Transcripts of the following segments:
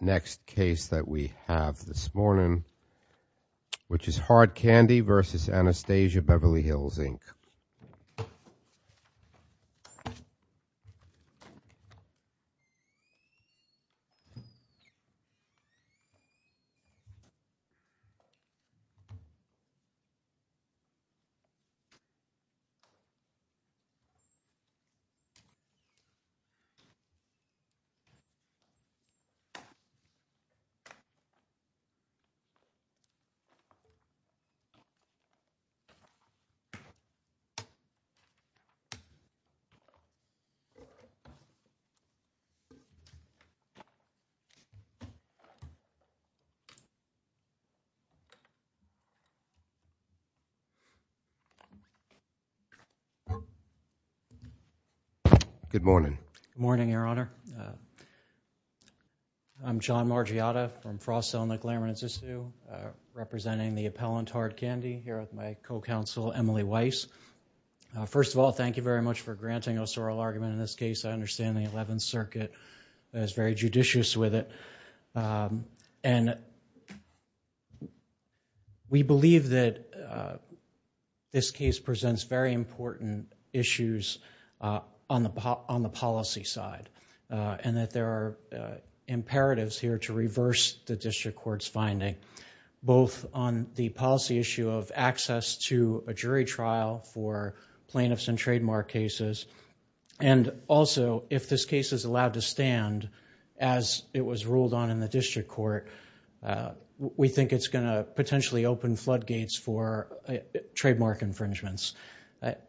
Next case that we have this morning, which is Hard Candy v. Anastasia Beverly Hills, Inc. Good morning. Good morning, Your Honor. I'm John Margiotta from Frost Cell and the Glamor and Zissou representing the appellant Hard Candy here with my co-counsel Emily Weiss. First of all, thank you very much for granting us oral argument in this case. I understand the Eleventh Circuit is very judicious with it. We believe that this case presents very important issues on the policy side and that there are imperatives here to reverse the district court's finding, both on the policy issue of access to a jury trial for plaintiffs and trademark cases and also if this case is allowed to court, we think it's going to potentially open floodgates for trademark infringements.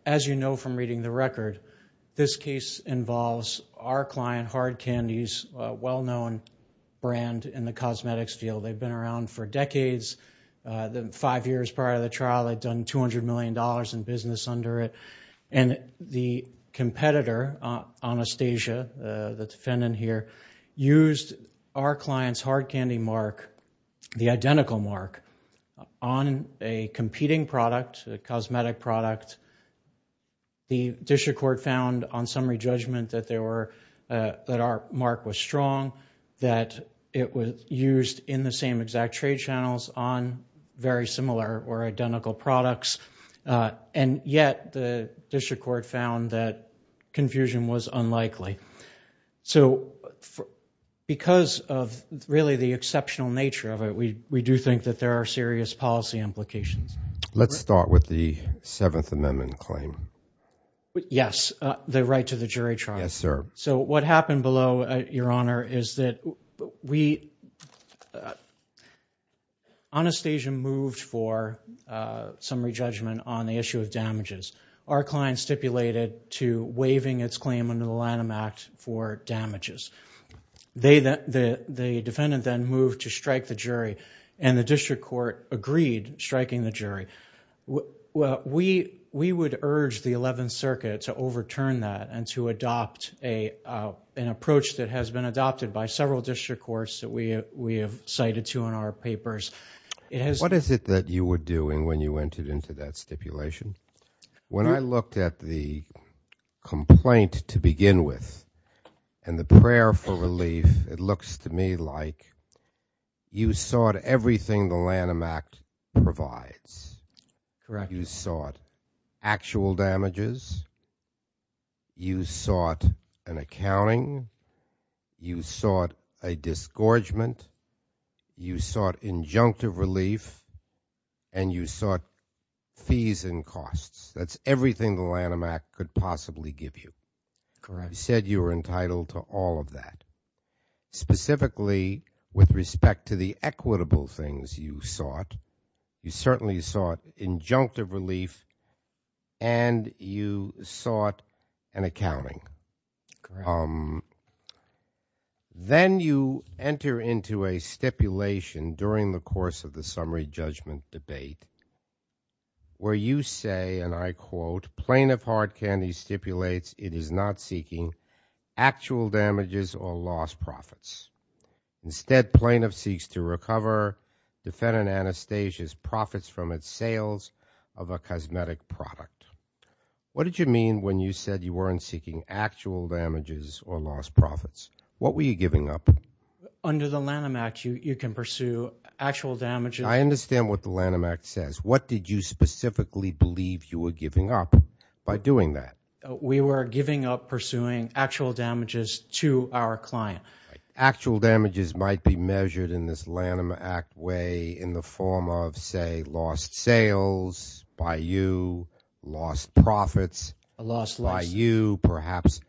As you know from reading the record, this case involves our client, Hard Candy's well-known brand in the cosmetics field. They've been around for decades, five years prior to the trial they'd done $200 million in business under it and the competitor, Anastasia, the defendant here, used our client's Hard Candy mark, the identical mark, on a competing product, a cosmetic product. The district court found on summary judgment that our mark was strong, that it was used in the same exact trade channels on very similar or identical products and yet the district court found that confusion was unlikely. So, because of really the exceptional nature of it, we do think that there are serious policy implications. Let's start with the Seventh Amendment claim. Yes, the right to the jury trial. So what happened below, Your Honor, is that Anastasia moved for summary judgment on the issue of damages. Our client stipulated to waiving its claim under the Lanham Act for damages. The defendant then moved to strike the jury and the district court agreed striking the jury. We would urge the Eleventh Circuit to overturn that and to adopt an approach that has been adopted by several district courts that we have cited to in our papers. What is it that you were doing when you entered into that stipulation? When I looked at the complaint to begin with and the prayer for relief, it looks to me like you sought everything the Lanham Act provides. You sought actual damages. You sought an accounting. You sought a disgorgement. You sought injunctive relief and you sought fees and costs. That's everything the Lanham Act could possibly give you. Correct. You said you were entitled to all of that, specifically with respect to the equitable things you sought. You certainly sought injunctive relief and you sought an accounting. Correct. Then you enter into a stipulation during the course of the summary judgment debate where you say, and I quote, plaintiff Hard Candy stipulates it is not seeking actual damages or lost profits. Instead, plaintiff seeks to recover defendant Anastasia's profits from its sales of a cosmetic product. What did you mean when you said you weren't seeking actual damages or lost profits? What were you giving up? Under the Lanham Act, you can pursue actual damages. I understand what the Lanham Act says. What did you specifically believe you were giving up by doing that? We were giving up pursuing actual damages to our client. Actual damages might be measured in this Lanham Act way in the form of, say, lost sales by you, lost profits by you, perhaps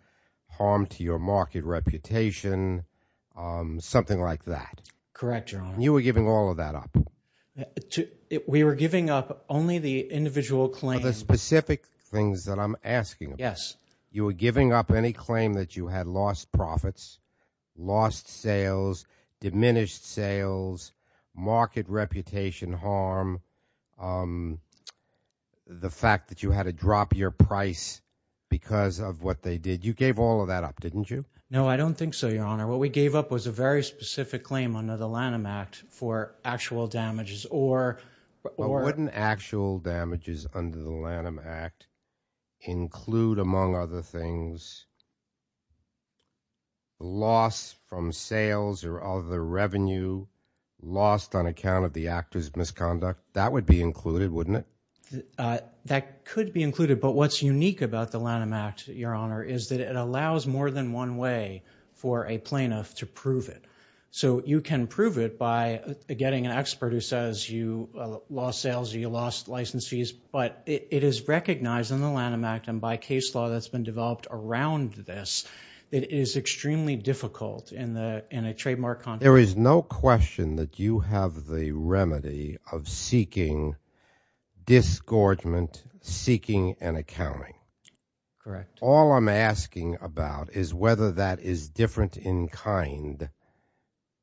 harm to your market reputation, something like that. Correct, Your Honor. You were giving all of that up? We were giving up only the individual claim. Of the specific things that I'm asking about. Yes. You were giving up any claim that you had lost profits, lost sales, diminished sales, market reputation harm, the fact that you had to drop your price because of what they did. You gave all of that up, didn't you? No, I don't think so, Your Honor. What we gave up was a very specific claim under the Lanham Act for actual damages or… But wouldn't actual damages under the Lanham Act include, among other things, loss from on account of the actor's misconduct? That would be included, wouldn't it? That could be included, but what's unique about the Lanham Act, Your Honor, is that it allows more than one way for a plaintiff to prove it. So you can prove it by getting an expert who says you lost sales or you lost license fees, but it is recognized in the Lanham Act and by case law that's been developed around this, it is extremely difficult in a trademark context. There is no question that you have the remedy of seeking disgorgement, seeking and accounting. Correct. All I'm asking about is whether that is different in kind,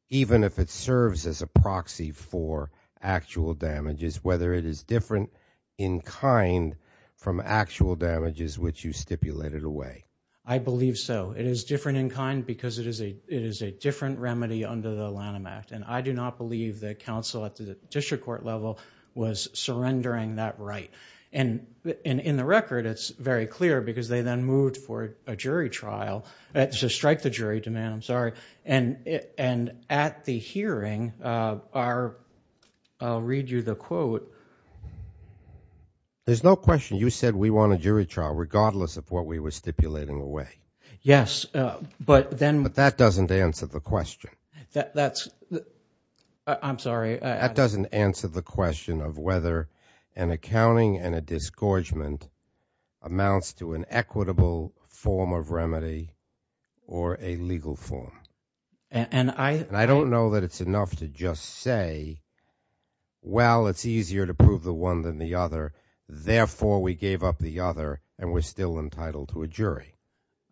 even if it serves as a proxy for actual damages, whether it is different in kind from actual damages which you stipulated away. I believe so. It is different in kind because it is a different remedy under the Lanham Act, and I do not believe that counsel at the district court level was surrendering that right. In the record, it's very clear because they then moved for a jury trial, to strike the jury demand, I'm sorry, and at the hearing, I'll read you the quote. There's no question you said we want a jury trial regardless of what we were stipulating away. Yes. But then... But that doesn't answer the question. That's... I'm sorry. That doesn't answer the question of whether an accounting and a disgorgement amounts to an equitable form of remedy or a legal form. And I... And I don't know that it's enough to just say, well, it's easier to prove the one than the other, therefore, we gave up the other and we're still entitled to a jury.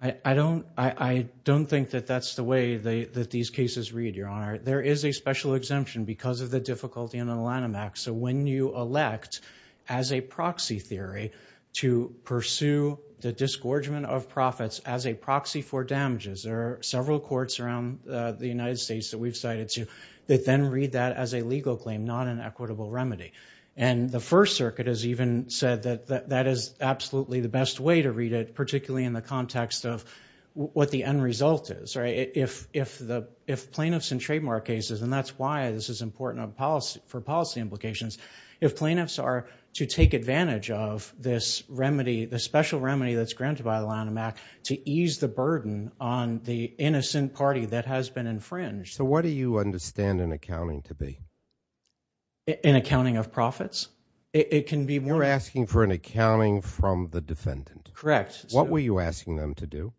I don't... I don't think that that's the way that these cases read, Your Honor. There is a special exemption because of the difficulty in the Lanham Act, so when you elect as a proxy theory to pursue the disgorgement of profits as a proxy for damages, there are several courts around the United States that we've cited to that then read that as a legal claim, not an equitable remedy. And the First Circuit has even said that that is absolutely the best way to read it, particularly in the context of what the end result is, right? If the... If plaintiffs in trademark cases, and that's why this is important for policy implications, if plaintiffs are to take advantage of this remedy, the special remedy that's granted by the Lanham Act, to ease the burden on the innocent party that has been infringed. So what do you understand an accounting to be? An accounting of profits? It can be more... You're asking for an accounting from the defendant. Correct. What were you asking them to do?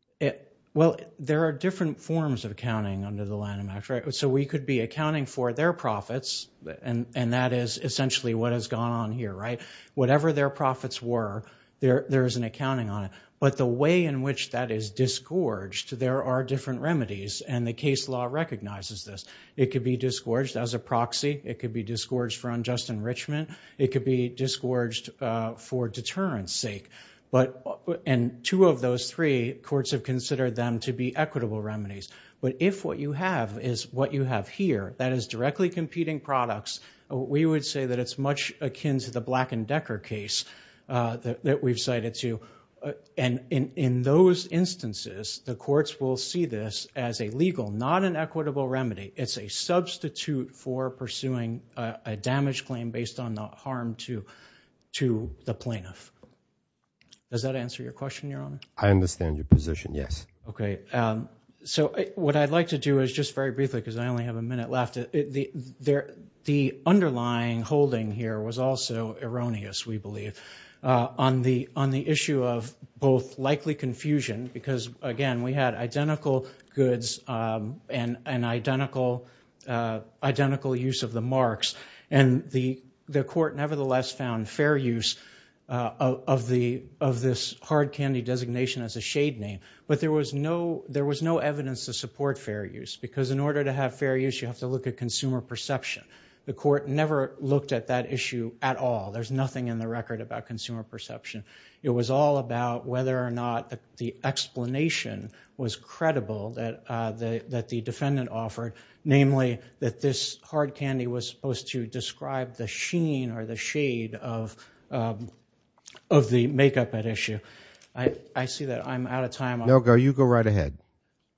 Well, there are different forms of accounting under the Lanham Act, right? So we could be accounting for their profits, and that is essentially what has gone on here, right? Whatever their profits were, there is an accounting on it. But the way in which that is disgorged, there are different remedies, and the case law recognizes this. It could be disgorged as a proxy. It could be disgorged for unjust enrichment. It could be disgorged for deterrence sake. And two of those three, courts have considered them to be equitable remedies. But if what you have is what you have here, that is directly competing products, we would say that it's much akin to the Black and Decker case that we've cited too. And in those instances, the courts will see this as a legal, not an equitable remedy. It's a substitute for pursuing a damage claim based on the harm to the plaintiff. Does that answer your question, Your Honor? I understand your position, yes. Okay. So what I'd like to do is just very briefly, because I only have a minute left, the underlying holding here was also erroneous, we believe, on the issue of both likely confusion, because again, we had identical goods and identical use of the marks, and the court nevertheless found fair use of this hard candy designation as a shade name, but there was no evidence to support fair use, because in order to have fair use, you have to look at consumer perception. The court never looked at that issue at all. There's nothing in the record about consumer perception. It was all about whether or not the explanation was credible that the defendant offered, namely that this hard candy was supposed to describe the sheen or the shade of the makeup at issue. I see that I'm out of time. No, go. You go right ahead.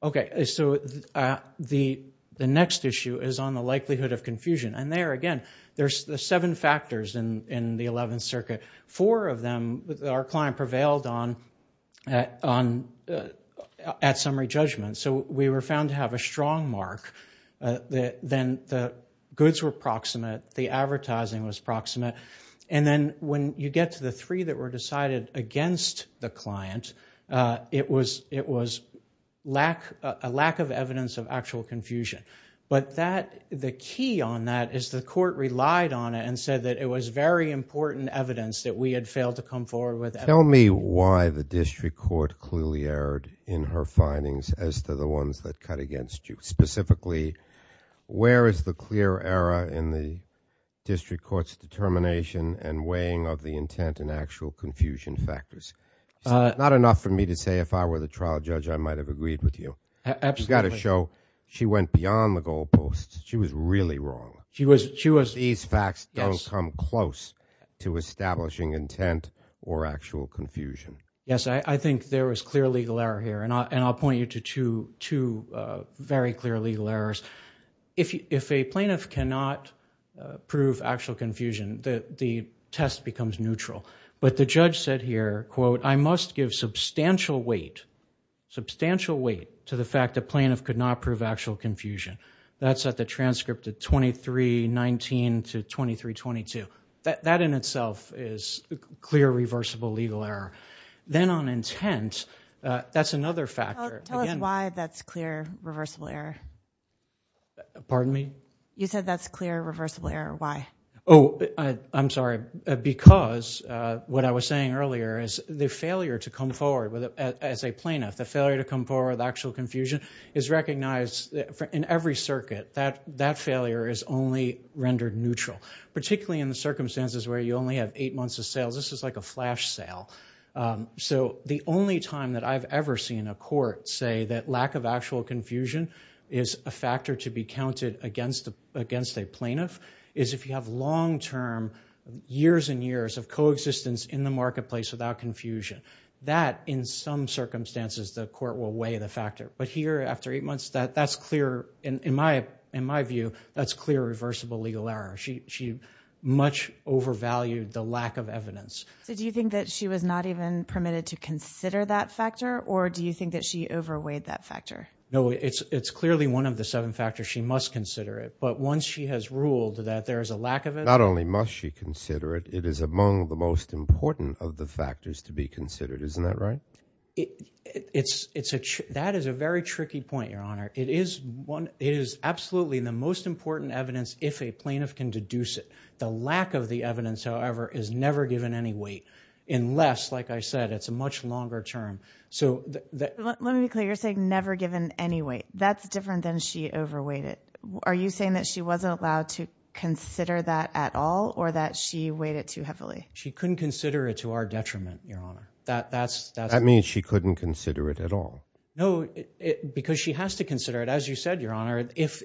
Okay. So the next issue is on the likelihood of confusion, and there again, there's the seven factors in the Eleventh Circuit. Four of them, our client prevailed on at summary judgment, so we were found to have a strong mark, then the goods were proximate, the advertising was proximate, and then when you get to the three that were decided against the client, it was a lack of evidence of actual confusion, but the key on that is the court relied on it and said that it was very important evidence that we had failed to come forward with evidence. Tell me why the district court clearly erred in her findings as to the ones that cut against you. Specifically, where is the clear error in the district court's determination and weighing of the intent and actual confusion factors? Not enough for me to say if I were the trial judge, I might have agreed with you. Absolutely. But you've got to show she went beyond the goalposts. She was really wrong. These facts don't come close to establishing intent or actual confusion. Yes, I think there was clear legal error here, and I'll point you to two very clear legal errors. If a plaintiff cannot prove actual confusion, the test becomes neutral, but the judge said here, quote, I must give substantial weight to the fact a plaintiff could not prove actual confusion. That's at the transcript of 2319 to 2322. That in itself is clear reversible legal error. Then on intent, that's another factor. Tell us why that's clear reversible error. Pardon me? You said that's clear reversible error. Why? Oh, I'm sorry. Because what I was saying earlier is the failure to come forward as a plaintiff, the failure to come forward with actual confusion is recognized in every circuit. That failure is only rendered neutral, particularly in the circumstances where you only have eight months of sales. This is like a flash sale. The only time that I've ever seen a court say that lack of actual confusion is a factor to be counted against a plaintiff is if you have long-term years and years of coexistence in the marketplace without confusion. That in some circumstances, the court will weigh the factor, but here after eight months, that's clear. In my view, that's clear reversible legal error. She much overvalued the lack of evidence. So do you think that she was not even permitted to consider that factor, or do you think that she overweighed that factor? No, it's clearly one of the seven factors. She must consider it. But once she has ruled that there is a lack of it— Not only must she consider it, it is among the most important of the factors to be considered. Isn't that right? That is a very tricky point, Your Honor. It is absolutely the most important evidence if a plaintiff can deduce it. The lack of the evidence, however, is never given any weight unless, like I said, it's a much longer term. Let me be clear. You're saying never given any weight. That's different than she overweighed it. Are you saying that she wasn't allowed to consider that at all or that she weighed it too heavily? She couldn't consider it to our detriment, Your Honor. That means she couldn't consider it at all. No, because she has to consider it. As you said, Your Honor, if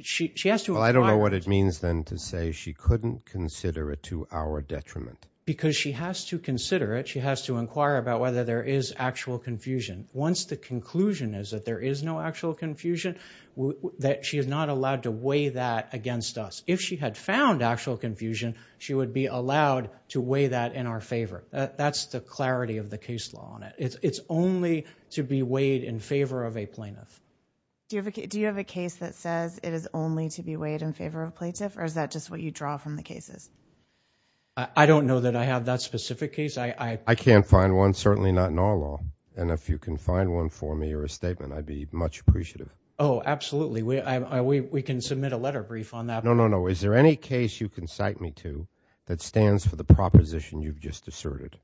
she has to inquire— I don't know what it means then to say she couldn't consider it to our detriment. Because she has to consider it. She has to inquire about whether there is actual confusion. Once the conclusion is that there is no actual confusion, she is not allowed to weigh that against us. If she had found actual confusion, she would be allowed to weigh that in our favor. That's the clarity of the case law on it. It's only to be weighed in favor of a plaintiff. Do you have a case that says it is only to be weighed in favor of a plaintiff or is that just what you draw from the cases? I don't know that I have that specific case. I can't find one, certainly not in our law. And if you can find one for me or a statement, I'd be much appreciative. Oh, absolutely. We can submit a letter brief on that. No, no, no. Is there any case you can cite me to that stands for the proposition you've just asserted,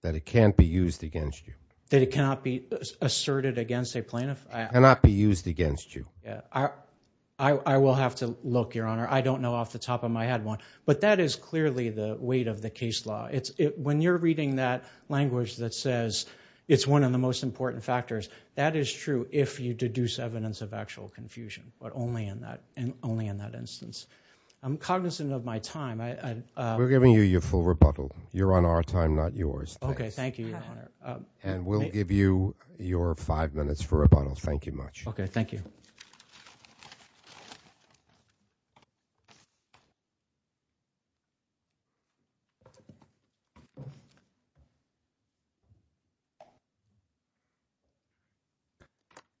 that it can't be used against you? That it cannot be asserted against a plaintiff? It cannot be used against you. I will have to look, Your Honor. I don't know off the top of my head one. But that is clearly the weight of the case law. When you're reading that language that says it's one of the most important factors, that is true if you deduce evidence of actual confusion, but only in that instance. I'm cognizant of my time. We're giving you your full rebuttal. You're on our time, not yours. Okay, thank you, Your Honor. And we'll give you your five minutes for rebuttal. Thank you much. Okay, thank you.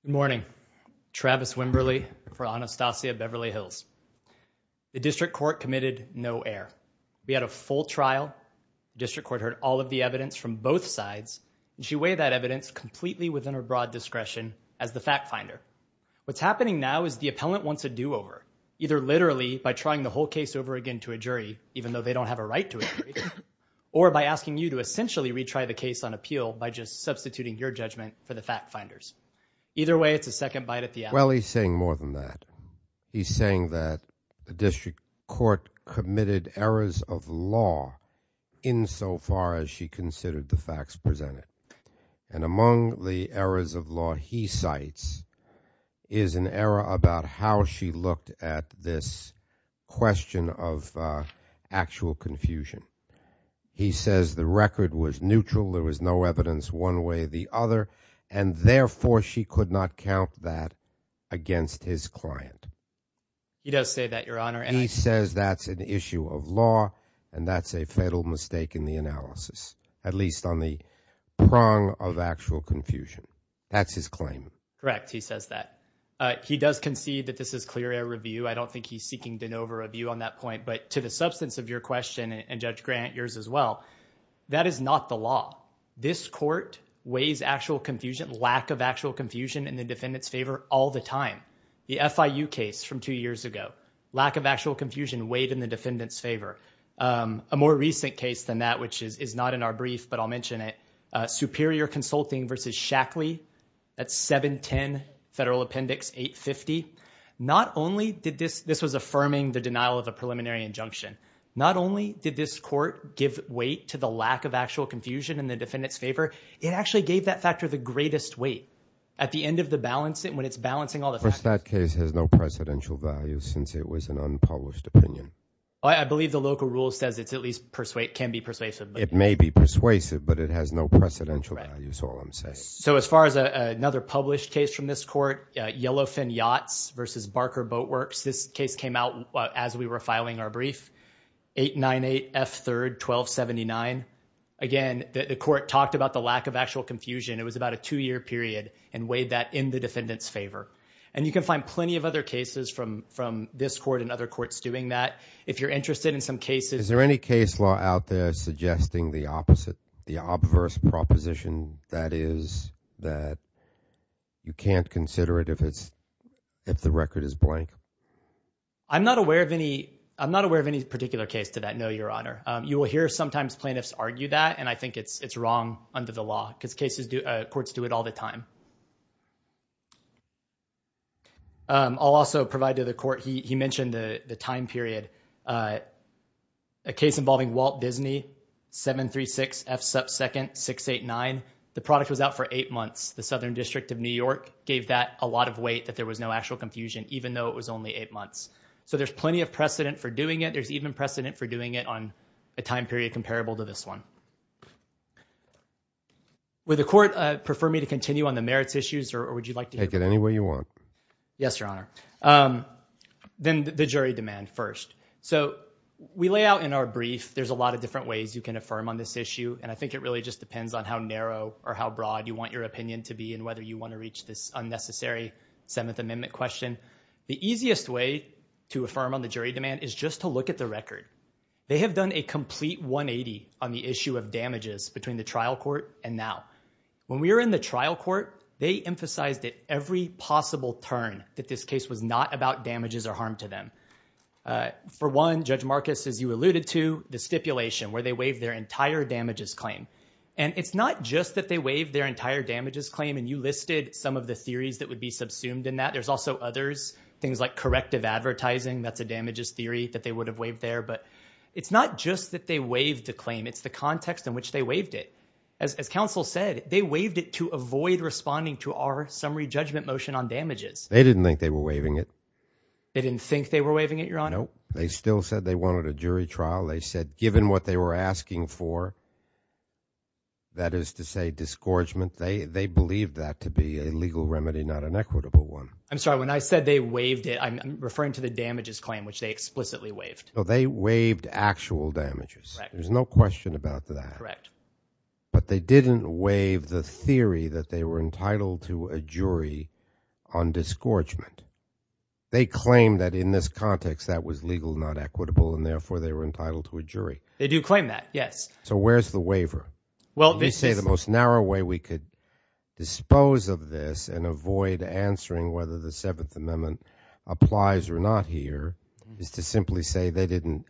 Good morning. Travis Wimberly for Anastasia Beverly Hills. The district court committed no error. We had a full trial. District court heard all of the evidence from both sides, and she weighed that evidence completely within her broad discretion as the fact finder. What's happening now is the appellant wants a do-over, either literally by trying the jury, even though they don't have a right to a jury, or by asking you to essentially retry the case on appeal by just substituting your judgment for the fact finder's. Either way, it's a second bite at the apple. Well, he's saying more than that. He's saying that the district court committed errors of law insofar as she considered the facts presented. And among the errors of law he cites is an error about how she looked at this question of actual confusion. He says the record was neutral, there was no evidence one way or the other, and therefore she could not count that against his client. He does say that, Your Honor. And he says that's an issue of law, and that's a fatal mistake in the analysis, at least on the prong of actual confusion. That's his claim. Correct. He says that. He does concede that this is clearly a review. I don't think he's seeking de novo review on that point. But to the substance of your question, and Judge Grant, yours as well, that is not the law. This court weighs actual confusion, lack of actual confusion, in the defendant's favor all the time. The FIU case from two years ago, lack of actual confusion weighed in the defendant's favor. A more recent case than that, which is not in our brief, but I'll mention it, Superior Consulting v. Shackley at 710 Federal Appendix 850. Not only did this, this was affirming the denial of a preliminary injunction. Not only did this court give weight to the lack of actual confusion in the defendant's favor, it actually gave that factor the greatest weight at the end of the balance, when it's balancing all the factors. But that case has no presidential value since it was an unpublished opinion. I believe the local rule says it's at least persuasive, can be persuasive. It may be persuasive, but it has no precedential value is all I'm saying. So as far as another published case from this court, Yellowfin Yachts v. Barker Boatworks. This case came out as we were filing our brief, 898 F. 3rd 1279. Again, the court talked about the lack of actual confusion. It was about a two-year period and weighed that in the defendant's favor. And you can find plenty of other cases from this court and other courts doing that. If you're interested in some cases- Is there any case law out there suggesting the opposite, the obverse proposition that is that you can't consider it if it's, if the record is blank? I'm not aware of any, I'm not aware of any particular case to that, no, your honor. You will hear sometimes plaintiffs argue that, and I think it's wrong under the law, because cases do, courts do it all the time. I'll also provide to the court, he mentioned the time period. A case involving Walt Disney, 736 F. 2nd 689. The product was out for eight months. The Southern District of New York gave that a lot of weight that there was no actual confusion, even though it was only eight months. So there's plenty of precedent for doing it. There's even precedent for doing it on a time period comparable to this one. Would the court prefer me to continue on the merits issues, or would you like to- Take it any way you want. Yes, your honor. Then the jury demand first. So we lay out in our brief, there's a lot of different ways you can affirm on this issue, and I think it really just depends on how narrow or how broad you want your opinion to be and whether you want to reach this unnecessary Seventh Amendment question. The easiest way to affirm on the jury demand is just to look at the record. They have done a complete 180 on the issue of damages between the trial court and now. When we were in the trial court, they emphasized at every possible turn that this case was not about damages or harm to them. For one, Judge Marcus, as you alluded to, the stipulation, where they waived their entire damages claim. And it's not just that they waived their entire damages claim, and you listed some of the theories that would be subsumed in that. There's also others, things like corrective advertising, that's a damages theory that they would have waived there. But it's not just that they waived the claim, it's the context in which they waived it. As counsel said, they waived it to avoid responding to our summary judgment motion on damages. They didn't think they were waiving it. They didn't think they were waiving it, Your Honor? No. They still said they wanted a jury trial. They said, given what they were asking for, that is to say, disgorgement, they believed that to be a legal remedy, not an equitable one. I'm sorry, when I said they waived it, I'm referring to the damages claim, which they explicitly waived. They waived actual damages. There's no question about that. Correct. But they didn't waive the theory that they were entitled to a jury on disgorgement. They claim that in this context, that was legal, not equitable, and therefore they were entitled to a jury. They do claim that, yes. So where's the waiver? Well, they say the most narrow way we could dispose of this and avoid answering whether the Seventh Amendment applies or not here is to simply say they didn't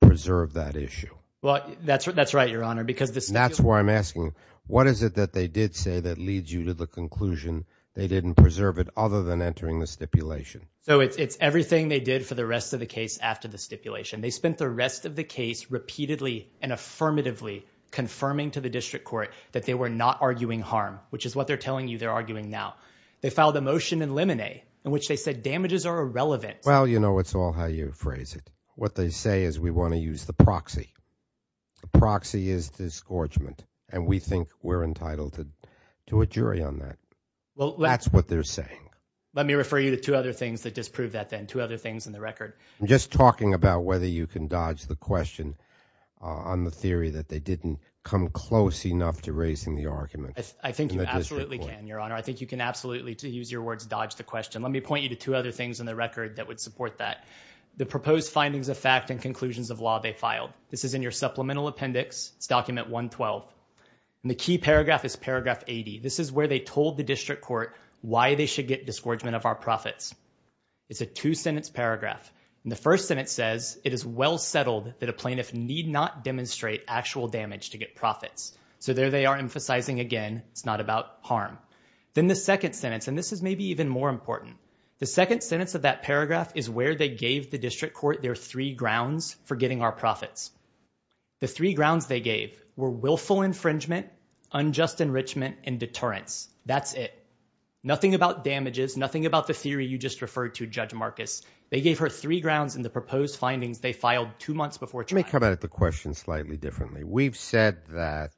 preserve that issue. Well, that's right, Your Honor, because the stipulation- That's why I'm asking, what is it that they did say that leads you to the conclusion they didn't preserve it other than entering the stipulation? So it's everything they did for the rest of the case after the stipulation. They spent the rest of the case repeatedly and affirmatively confirming to the district court that they were not arguing harm, which is what they're telling you they're arguing now. They filed a motion in Lemonet in which they said damages are irrelevant. Well, you know, it's all how you phrase it. What they say is we want to use the proxy. The proxy is disgorgement, and we think we're entitled to a jury on that. That's what they're saying. Let me refer you to two other things that disprove that then, two other things in the record. I'm just talking about whether you can dodge the question on the theory that they didn't come close enough to raising the argument in the district court. I think you absolutely can, Your Honor. I think you can absolutely, to use your words, dodge the question. Let me point you to two other things in the record that would support that. The proposed findings of fact and conclusions of law they filed. This is in your supplemental appendix. It's document 112. And the key paragraph is paragraph 80. This is where they told the district court why they should get disgorgement of our profits. It's a two-sentence paragraph. And the first sentence says, it is well settled that a plaintiff need not demonstrate actual damage to get profits. So there they are emphasizing again, it's not about harm. Then the second sentence, and this is maybe even more important. The second sentence of that paragraph is where they gave the district court their three grounds for getting our profits. The three grounds they gave were willful infringement, unjust enrichment, and deterrence. That's it. Nothing about damages, nothing about the theory you just referred to, Judge Marcus. They gave her three grounds in the proposed findings they filed two months before trial. Let me come at the question slightly differently. We've said that,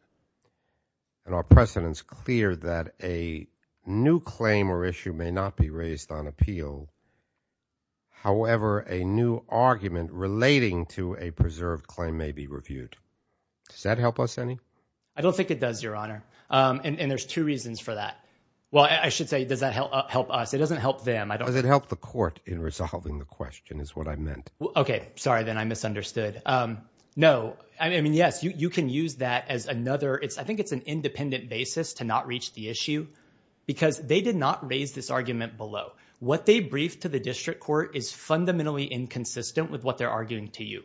and our precedent's clear, that a new claim or issue may not be raised on appeal. However, a new argument relating to a preserved claim may be reviewed. Does that help us any? I don't think it does, Your Honor. And there's two reasons for that. Well, I should say, does that help us? It doesn't help them. Does it help the court in resolving the question is what I meant. OK. Sorry then, I misunderstood. No, I mean, yes, you can use that as another, I think it's an independent basis to not reach the issue, because they did not raise this argument below. What they briefed to the district court is fundamentally inconsistent with what they're arguing to you.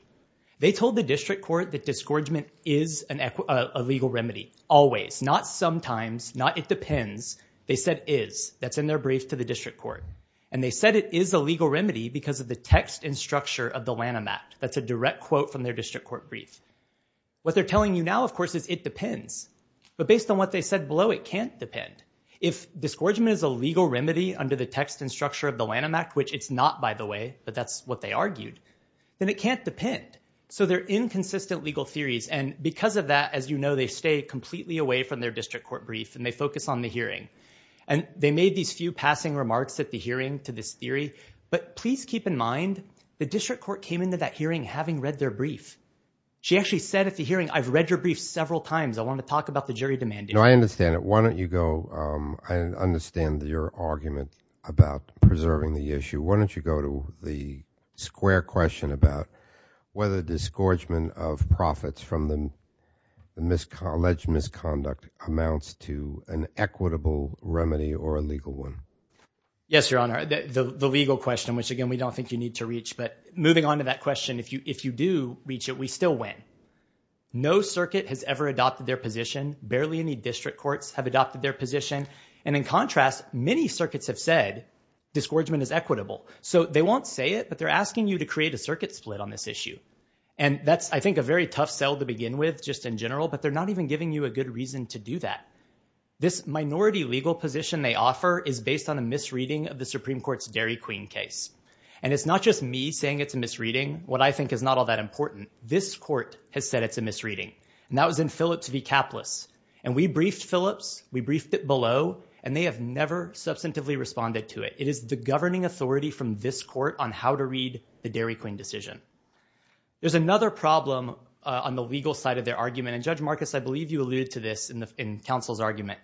They told the district court that disgorgement is a legal remedy, always, not sometimes, not it depends. They said is. That's in their brief to the district court. And they said it is a legal remedy because of the text and structure of the Lanham Act. That's a direct quote from their district court brief. What they're telling you now, of course, is it depends. But based on what they said below, it can't depend. If disgorgement is a legal remedy under the text and structure of the Lanham Act, which it's not, by the way, but that's what they argued, then it can't depend. So they're inconsistent legal theories. And because of that, as you know, they stay completely away from their district court brief, and they focus on the hearing. And they made these few passing remarks at the hearing to this theory. But please keep in mind, the district court came into that hearing having read their brief. She actually said at the hearing, I've read your brief several times. I want to talk about the jury demand. No, I understand it. Why don't you go, I understand your argument about preserving the issue. Why don't you go to the square question about whether disgorgement of profits from the alleged misconduct amounts to an equitable remedy or a legal one. Yes, Your Honor, the legal question, which again, we don't think you need to reach. But moving on to that question, if you do reach it, we still win. No circuit has ever adopted their position. Barely any district courts have adopted their position. And in contrast, many circuits have said, disgorgement is equitable. So they won't say it, but they're asking you to create a circuit split on this issue. And that's, I think, a very tough sell to begin with, just in general, but they're not even giving you a good reason to do that. This minority legal position they offer is based on a misreading of the Supreme Court's Dairy Queen case. And it's not just me saying it's a misreading. What I think is not all that important. This court has said it's a misreading, and that was in Phillips v. Capless. And we briefed Phillips, we briefed it below, and they have never substantively responded to it. It is the governing authority from this court on how to read the Dairy Queen decision. There's another problem on the legal side of their argument. And Judge Marcus, I believe you alluded to this in counsel's argument.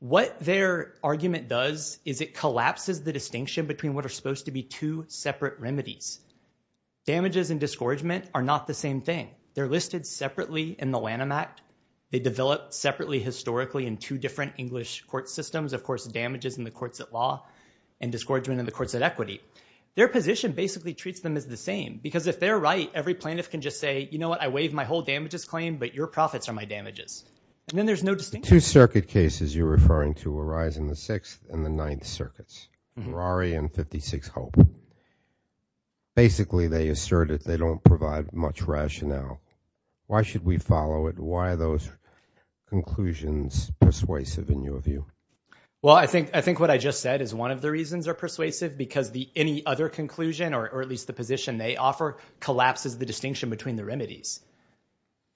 What their argument does is it collapses the distinction between what are supposed to be two separate remedies. Damages and disgorgement are not the same thing. They're listed separately in the Lanham Act. They develop separately historically in two different English court systems. Of course, damages in the courts of law and disgorgement in the courts of equity. Their position basically treats them as the same, because if they're right, every plaintiff can just say, you know what, I waive my whole damages claim, but your profits are my damages, and then there's no distinction. The two circuit cases you're referring to arise in the Sixth and the Ninth Circuits, Rory and 56 Hope. Basically, they assert that they don't provide much rationale. Why should we follow it? Why are those conclusions persuasive in your view? Well, I think what I just said is one of the reasons they're persuasive, because any other conclusion, or at least the position they offer, collapses the distinction between the remedies.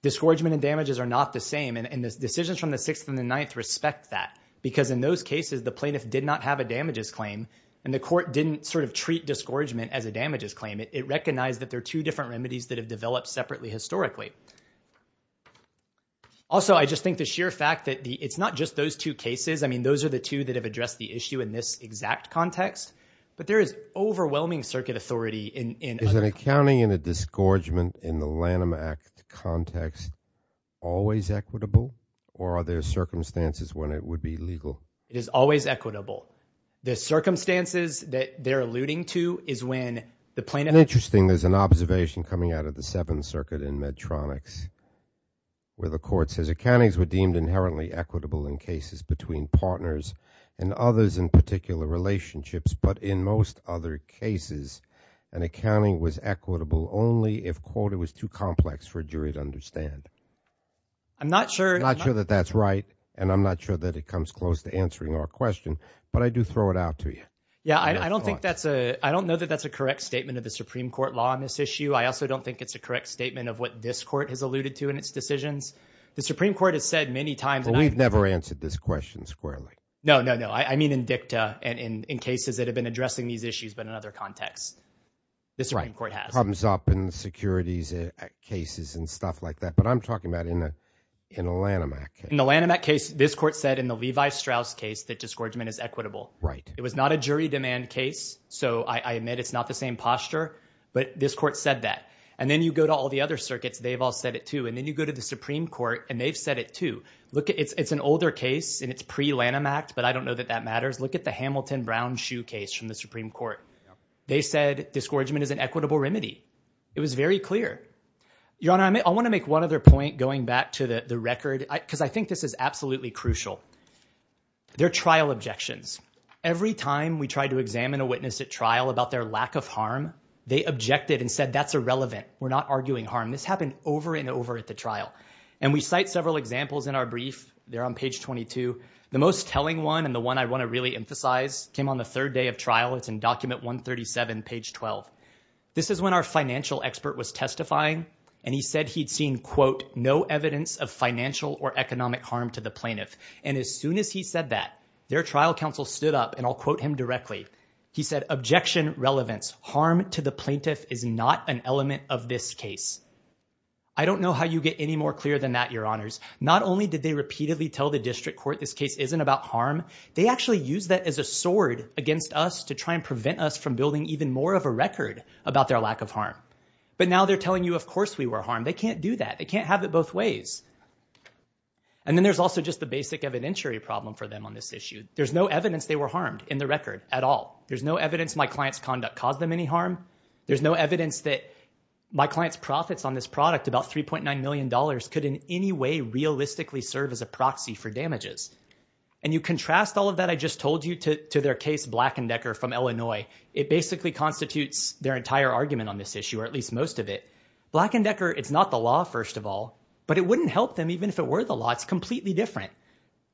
Disgorgement and damages are not the same, and the decisions from the Sixth and the Ninth respect that. Because in those cases, the plaintiff did not have a damages claim, and the court didn't sort of treat disgorgement as a damages claim. It recognized that there are two different remedies that have developed separately historically. Also, I just think the sheer fact that it's not just those two cases. I mean, those are the two that have addressed the issue in this exact context. But there is overwhelming circuit authority in- Is accounting in a disgorgement in the Lanham Act context always equitable? Or are there circumstances when it would be legal? It is always equitable. The circumstances that they're alluding to is when the plaintiff- Interesting, there's an observation coming out of the Seventh Circuit in Medtronics. Where the court says, accountants were deemed inherently equitable in cases between partners and others in particular relationships. But in most other cases, an accounting was equitable only if, quote, it was too complex for a jury to understand. I'm not sure- I'm not sure that that's right, and I'm not sure that it comes close to answering our question. But I do throw it out to you. Yeah, I don't think that's a, I don't know that that's a correct statement of the Supreme Court law on this issue. I also don't think it's a correct statement of what this court has alluded to in its decisions. The Supreme Court has said many times- Well, we've never answered this question squarely. No, no, no, I mean in dicta and in cases that have been addressing these issues, but in other contexts. The Supreme Court has. Problems up in securities cases and stuff like that, but I'm talking about in a Lanham Act case. In the Lanham Act case, this court said in the Levi Strauss case that disgorgement is equitable. Right. It was not a jury demand case, so I admit it's not the same posture, but this court said that. And then you go to all the other circuits, they've all said it too. And then you go to the Supreme Court, and they've said it too. Look, it's an older case, and it's pre-Lanham Act, but I don't know that that matters. Look at the Hamilton Brown Shoe case from the Supreme Court. They said disgorgement is an equitable remedy. It was very clear. Your Honor, I want to make one other point going back to the record, because I think this is absolutely crucial. They're trial objections. Every time we try to examine a witness at trial about their lack of harm, they objected and said that's irrelevant. We're not arguing harm. This happened over and over at the trial. And we cite several examples in our brief. They're on page 22. The most telling one, and the one I want to really emphasize, came on the third day of trial. It's in document 137, page 12. This is when our financial expert was testifying. And he said he'd seen, quote, no evidence of financial or economic harm to the plaintiff. And as soon as he said that, their trial counsel stood up, and I'll quote him directly. He said, objection relevance, harm to the plaintiff is not an element of this case. I don't know how you get any more clear than that, your honors. Not only did they repeatedly tell the district court this case isn't about harm, they actually used that as a sword against us to try and prevent us from building even more of a record about their lack of harm. But now they're telling you, of course, we were harmed. They can't do that. They can't have it both ways. And then there's also just the basic evidentiary problem for them on this issue. There's no evidence they were harmed in the record at all. There's no evidence my client's conduct caused them any harm. There's no evidence that my client's profits on this product, about $3.9 million, could in any way realistically serve as a proxy for damages. And you contrast all of that I just told you to their case, Black & Decker, from Illinois. It basically constitutes their entire argument on this issue, or at least most of it. Black & Decker, it's not the law, first of all, but it wouldn't help them even if it were the law. It's completely different.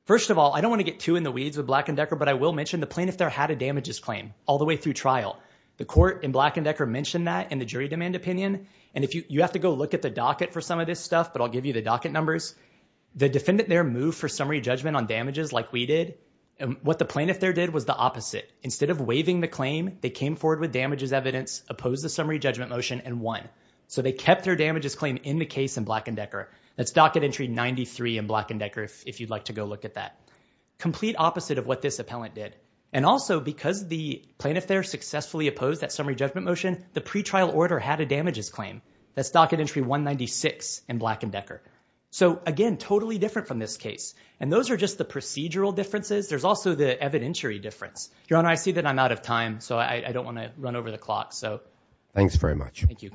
First of all, I don't wanna get too in the weeds with Black & Decker, but I will mention the plaintiff there had a damages claim all the way through trial. The court in Black & Decker mentioned that in the jury demand opinion. And you have to go look at the docket for some of this stuff, but I'll give you the docket numbers. The defendant there moved for summary judgment on damages like we did. And what the plaintiff there did was the opposite. Instead of waiving the claim, they came forward with damages evidence, opposed the summary judgment motion, and won. So they kept their damages claim in the case in Black & Decker. That's docket entry 93 in Black & Decker if you'd like to go look at that. Complete opposite of what this appellant did. And also, because the plaintiff there successfully opposed that summary judgment motion, the pretrial order had a damages claim. That's docket entry 196 in Black & Decker. So again, totally different from this case. And those are just the procedural differences. There's also the evidentiary difference. Your Honor, I see that I'm out of time, so I don't wanna run over the clock, so. Thanks very much. Thank you.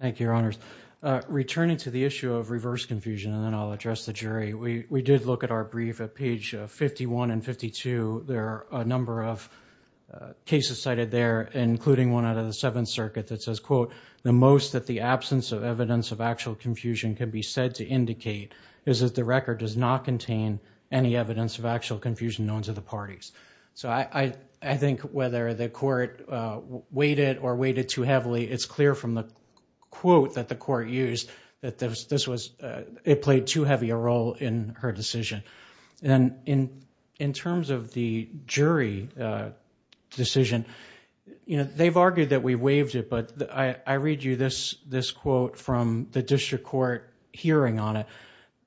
Thank you, Your Honors. Returning to the issue of reverse confusion, and then I'll address the jury. We did look at our brief at page 51 and 52. There are a number of cases cited there, including one out of the Seventh Circuit that says, quote, the most that the absence of evidence of actual confusion can be said to indicate is that the record does not contain any evidence of actual confusion known to the parties. So I think whether the court weighed it or weighed it too heavily, it's clear from the quote that the court used that this was, it played too heavy a role in her decision. And in terms of the jury decision, they've argued that we waived it, but I read you this quote from the district court hearing on it.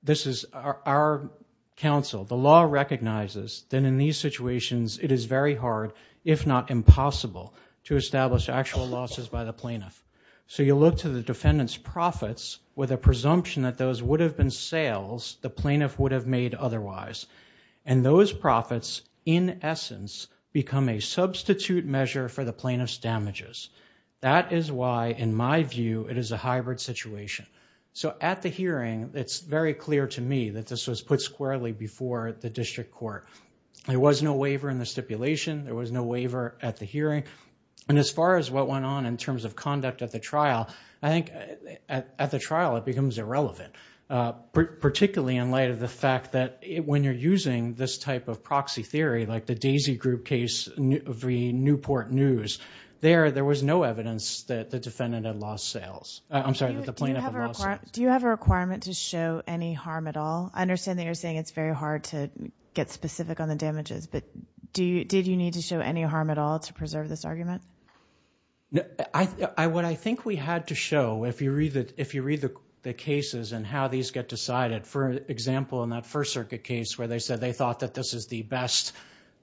This is our counsel. The law recognizes that in these situations, it is very hard, if not impossible, to establish actual losses by the plaintiff. So you look to the defendant's profits with a presumption that those would have been sales the plaintiff would have made otherwise. And those profits, in essence, become a substitute measure for the plaintiff's damages. That is why, in my view, it is a hybrid situation. So at the hearing, it's very clear to me that this was put squarely before the district court. There was no waiver in the stipulation. There was no waiver at the hearing. And as far as what went on in terms of conduct at the trial, I think at the trial, it becomes irrelevant, particularly in light of the fact that when you're using this type of proxy theory, like the Daisy Group case of the Newport News, there, there was no evidence that the defendant had lost sales. I'm sorry, that the plaintiff had lost sales. Do you have a requirement to show any harm at all? I understand that you're saying it's very hard to get specific on the damages, but did you need to show any harm at all to preserve this argument? What I think we had to show, if you read the cases and how these get decided, for example, in that First Circuit case where they said they thought that this is the best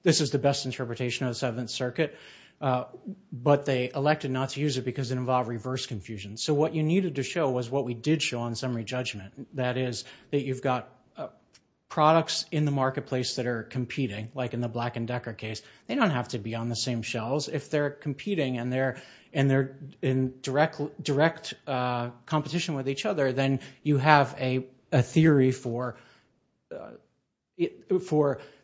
interpretation of the Seventh Circuit, but they elected not to use it because it involved reverse confusion. So what you needed to show was what we did show on summary judgment. That is, that you've got products in the marketplace that are competing, like in the Black and Decker case. They don't have to be on the same shelves. If they're competing and they're in direct competition with each other, then you have a theory for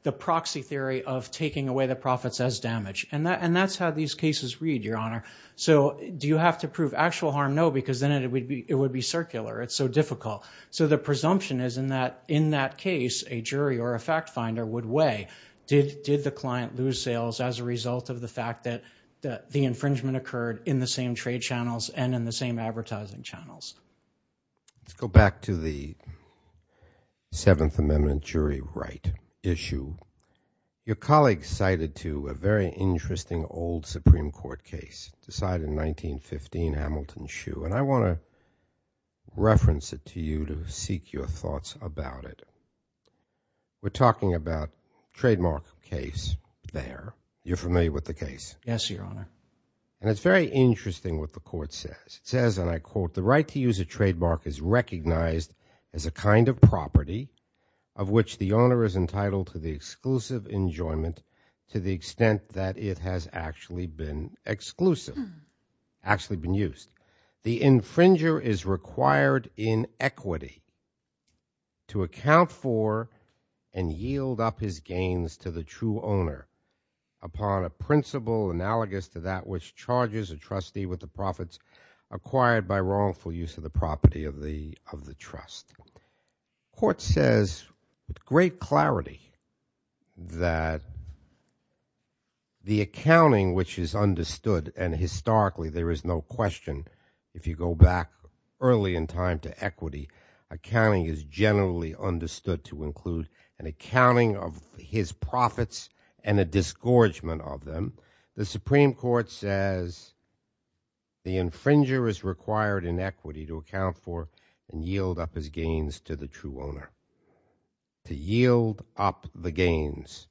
the proxy theory of taking away the profits as damage. And that's how these cases read, Your Honor. So do you have to prove actual harm? No, because then it would be circular. It's so difficult. So the presumption is in that case, a jury or a fact finder would weigh, did the client lose sales as a result of the fact that the infringement occurred in the same trade channels and in the same advertising channels? Let's go back to the Seventh Amendment jury right issue. Your colleague cited to a very interesting old Supreme Court case, decided in 1915, Hamilton Shoe. And I want to reference it to you to seek your thoughts about it. We're talking about trademark case there. You're familiar with the case? Yes, Your Honor. And it's very interesting what the court says. It says, and I quote, the right to use a trademark is recognized as a kind of exclusive enjoyment to the extent that it has actually been exclusive, actually been used. The infringer is required in equity to account for and yield up his gains to the true owner upon a principle analogous to that which charges a trustee with the profits acquired by wrongful use of the property of the trust. Court says with great clarity that the accounting which is understood, and historically there is no question, if you go back early in time to equity, accounting is generally understood to include an accounting of his profits and a disgorgement of them, the Supreme Court says the infringer is required in equity to account for and yield up his gains to the true owner. To yield up the gains,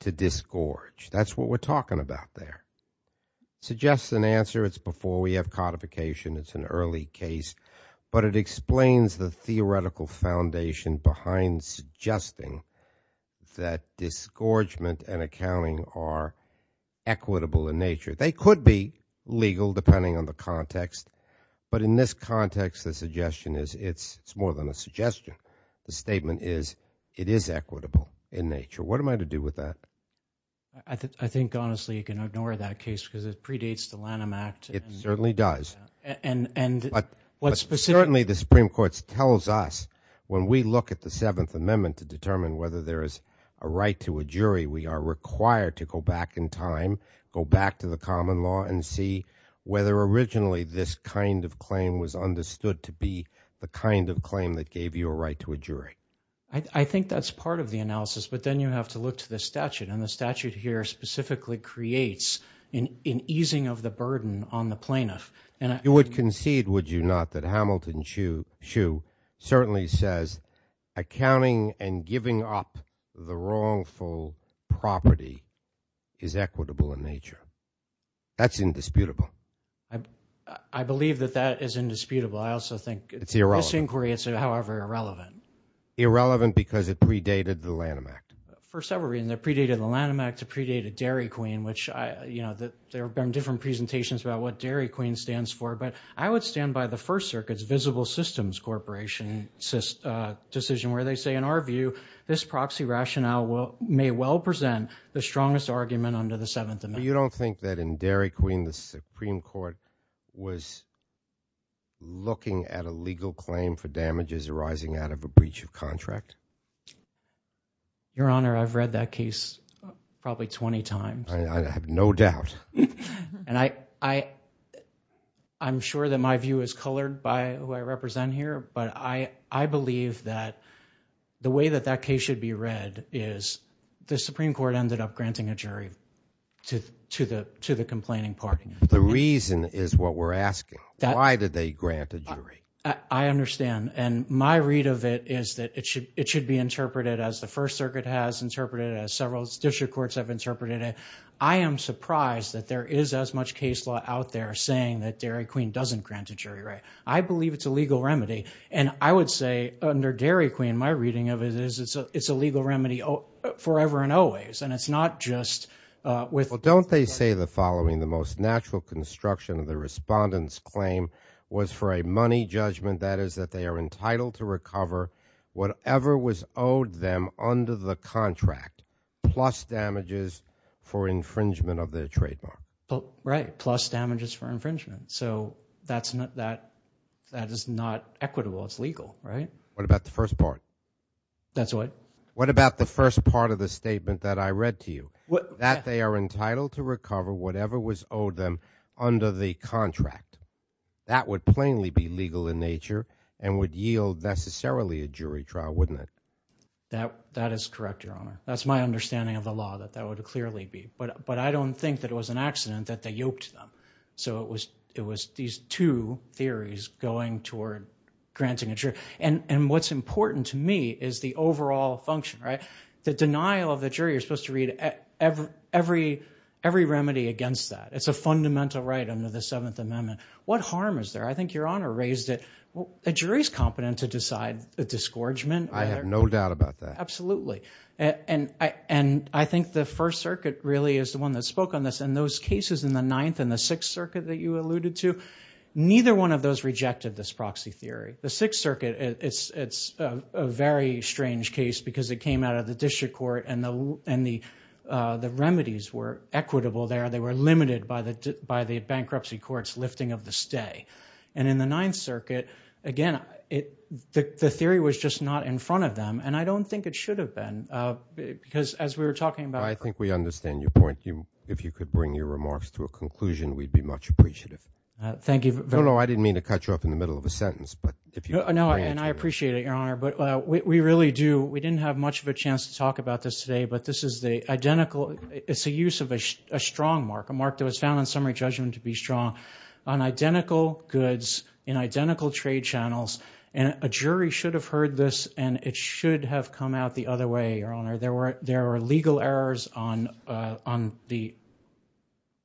to disgorge, that's what we're talking about there. Suggests an answer, it's before we have codification, it's an early case. But it explains the theoretical foundation behind suggesting that disgorgement and accounting are equitable in nature. They could be legal depending on the context. But in this context, the suggestion is it's more than a suggestion. The statement is it is equitable in nature. What am I to do with that? I think honestly you can ignore that case because it predates the Lanham Act. It certainly does. And what's specific. Certainly the Supreme Court tells us when we look at the Seventh Amendment to determine whether there is a right to a jury, we are required to go back in time, go back to the common law and see whether originally this kind of claim was understood to be the kind of claim that gave you a right to a jury. I think that's part of the analysis, but then you have to look to the statute. And the statute here specifically creates an easing of the burden on the plaintiff. You would concede, would you not, that Hamilton Hsu certainly says accounting and accounting are equitable in nature. That's indisputable. I believe that that is indisputable. I also think- It's irrelevant. This inquiry is however irrelevant. Irrelevant because it predated the Lanham Act. For several reasons. It predated the Lanham Act. It predated Dairy Queen, which there have been different presentations about what Dairy Queen stands for. But I would stand by the First Circuit's Visible Systems Corporation decision where they say, in our view, this proxy rationale may well present the strongest argument under the Seventh Amendment. But you don't think that in Dairy Queen, the Supreme Court was looking at a legal claim for damages arising out of a breach of contract? Your Honor, I've read that case probably 20 times. I have no doubt. And I'm sure that my view is colored by who I represent here. But I believe that the way that that case should be read is the Supreme Court ended up granting a jury to the complaining party. The reason is what we're asking. Why did they grant a jury? I understand. And my read of it is that it should be interpreted as the First Circuit has interpreted it, as several district courts have interpreted it. I am surprised that there is as much case law out there saying that Dairy Queen doesn't grant a jury right. I believe it's a legal remedy. And I would say under Dairy Queen, my reading of it is it's a legal remedy forever and always. And it's not just with- But don't they say the following, the most natural construction of the respondent's claim was for a money judgment, that is that they are entitled to recover whatever was owed them under the contract plus damages for infringement of their trademark. Right, plus damages for infringement. So that is not equitable, it's legal, right? What about the first part? That's what? What about the first part of the statement that I read to you? That they are entitled to recover whatever was owed them under the contract. That would plainly be legal in nature and would yield necessarily a jury trial, wouldn't it? That is correct, Your Honor. That's my understanding of the law, that that would clearly be. But I don't think that it was an accident that they yoked them. So it was these two theories going toward granting a jury. And what's important to me is the overall function, right? The denial of the jury, you're supposed to read every remedy against that. It's a fundamental right under the Seventh Amendment. What harm is there? I think Your Honor raised it. A jury's competent to decide the disgorgement. I have no doubt about that. Absolutely. And I think the First Circuit really is the one that spoke on this. And those cases in the Ninth and the Sixth Circuit that you alluded to, neither one of those rejected this proxy theory. The Sixth Circuit, it's a very strange case because it came out of the district court and the remedies were equitable there. They were limited by the bankruptcy court's lifting of the stay. And in the Ninth Circuit, again, the theory was just not in front of them. And I don't think it should have been because as we were talking about- your remarks to a conclusion, we'd be much appreciative. Thank you very much. No, no, I didn't mean to cut you off in the middle of a sentence, but if you- No, and I appreciate it, Your Honor. But we really do, we didn't have much of a chance to talk about this today, but this is the identical, it's a use of a strong mark, a mark that was found in summary judgment to be strong on identical goods, in identical trade channels. And a jury should have heard this and it should have come out the other way, Your Honor. There were legal errors on the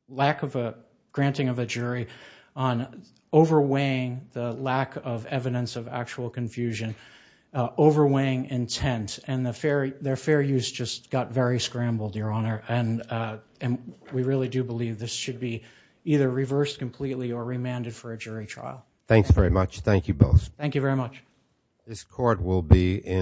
lack of a- granting of a jury, on overweighing the lack of evidence of actual confusion, overweighing intent. And their fair use just got very scrambled, Your Honor. And we really do believe this should be either reversed completely or remanded for a jury trial. Thanks very much. Thank you both. Thank you very much. This court will be in-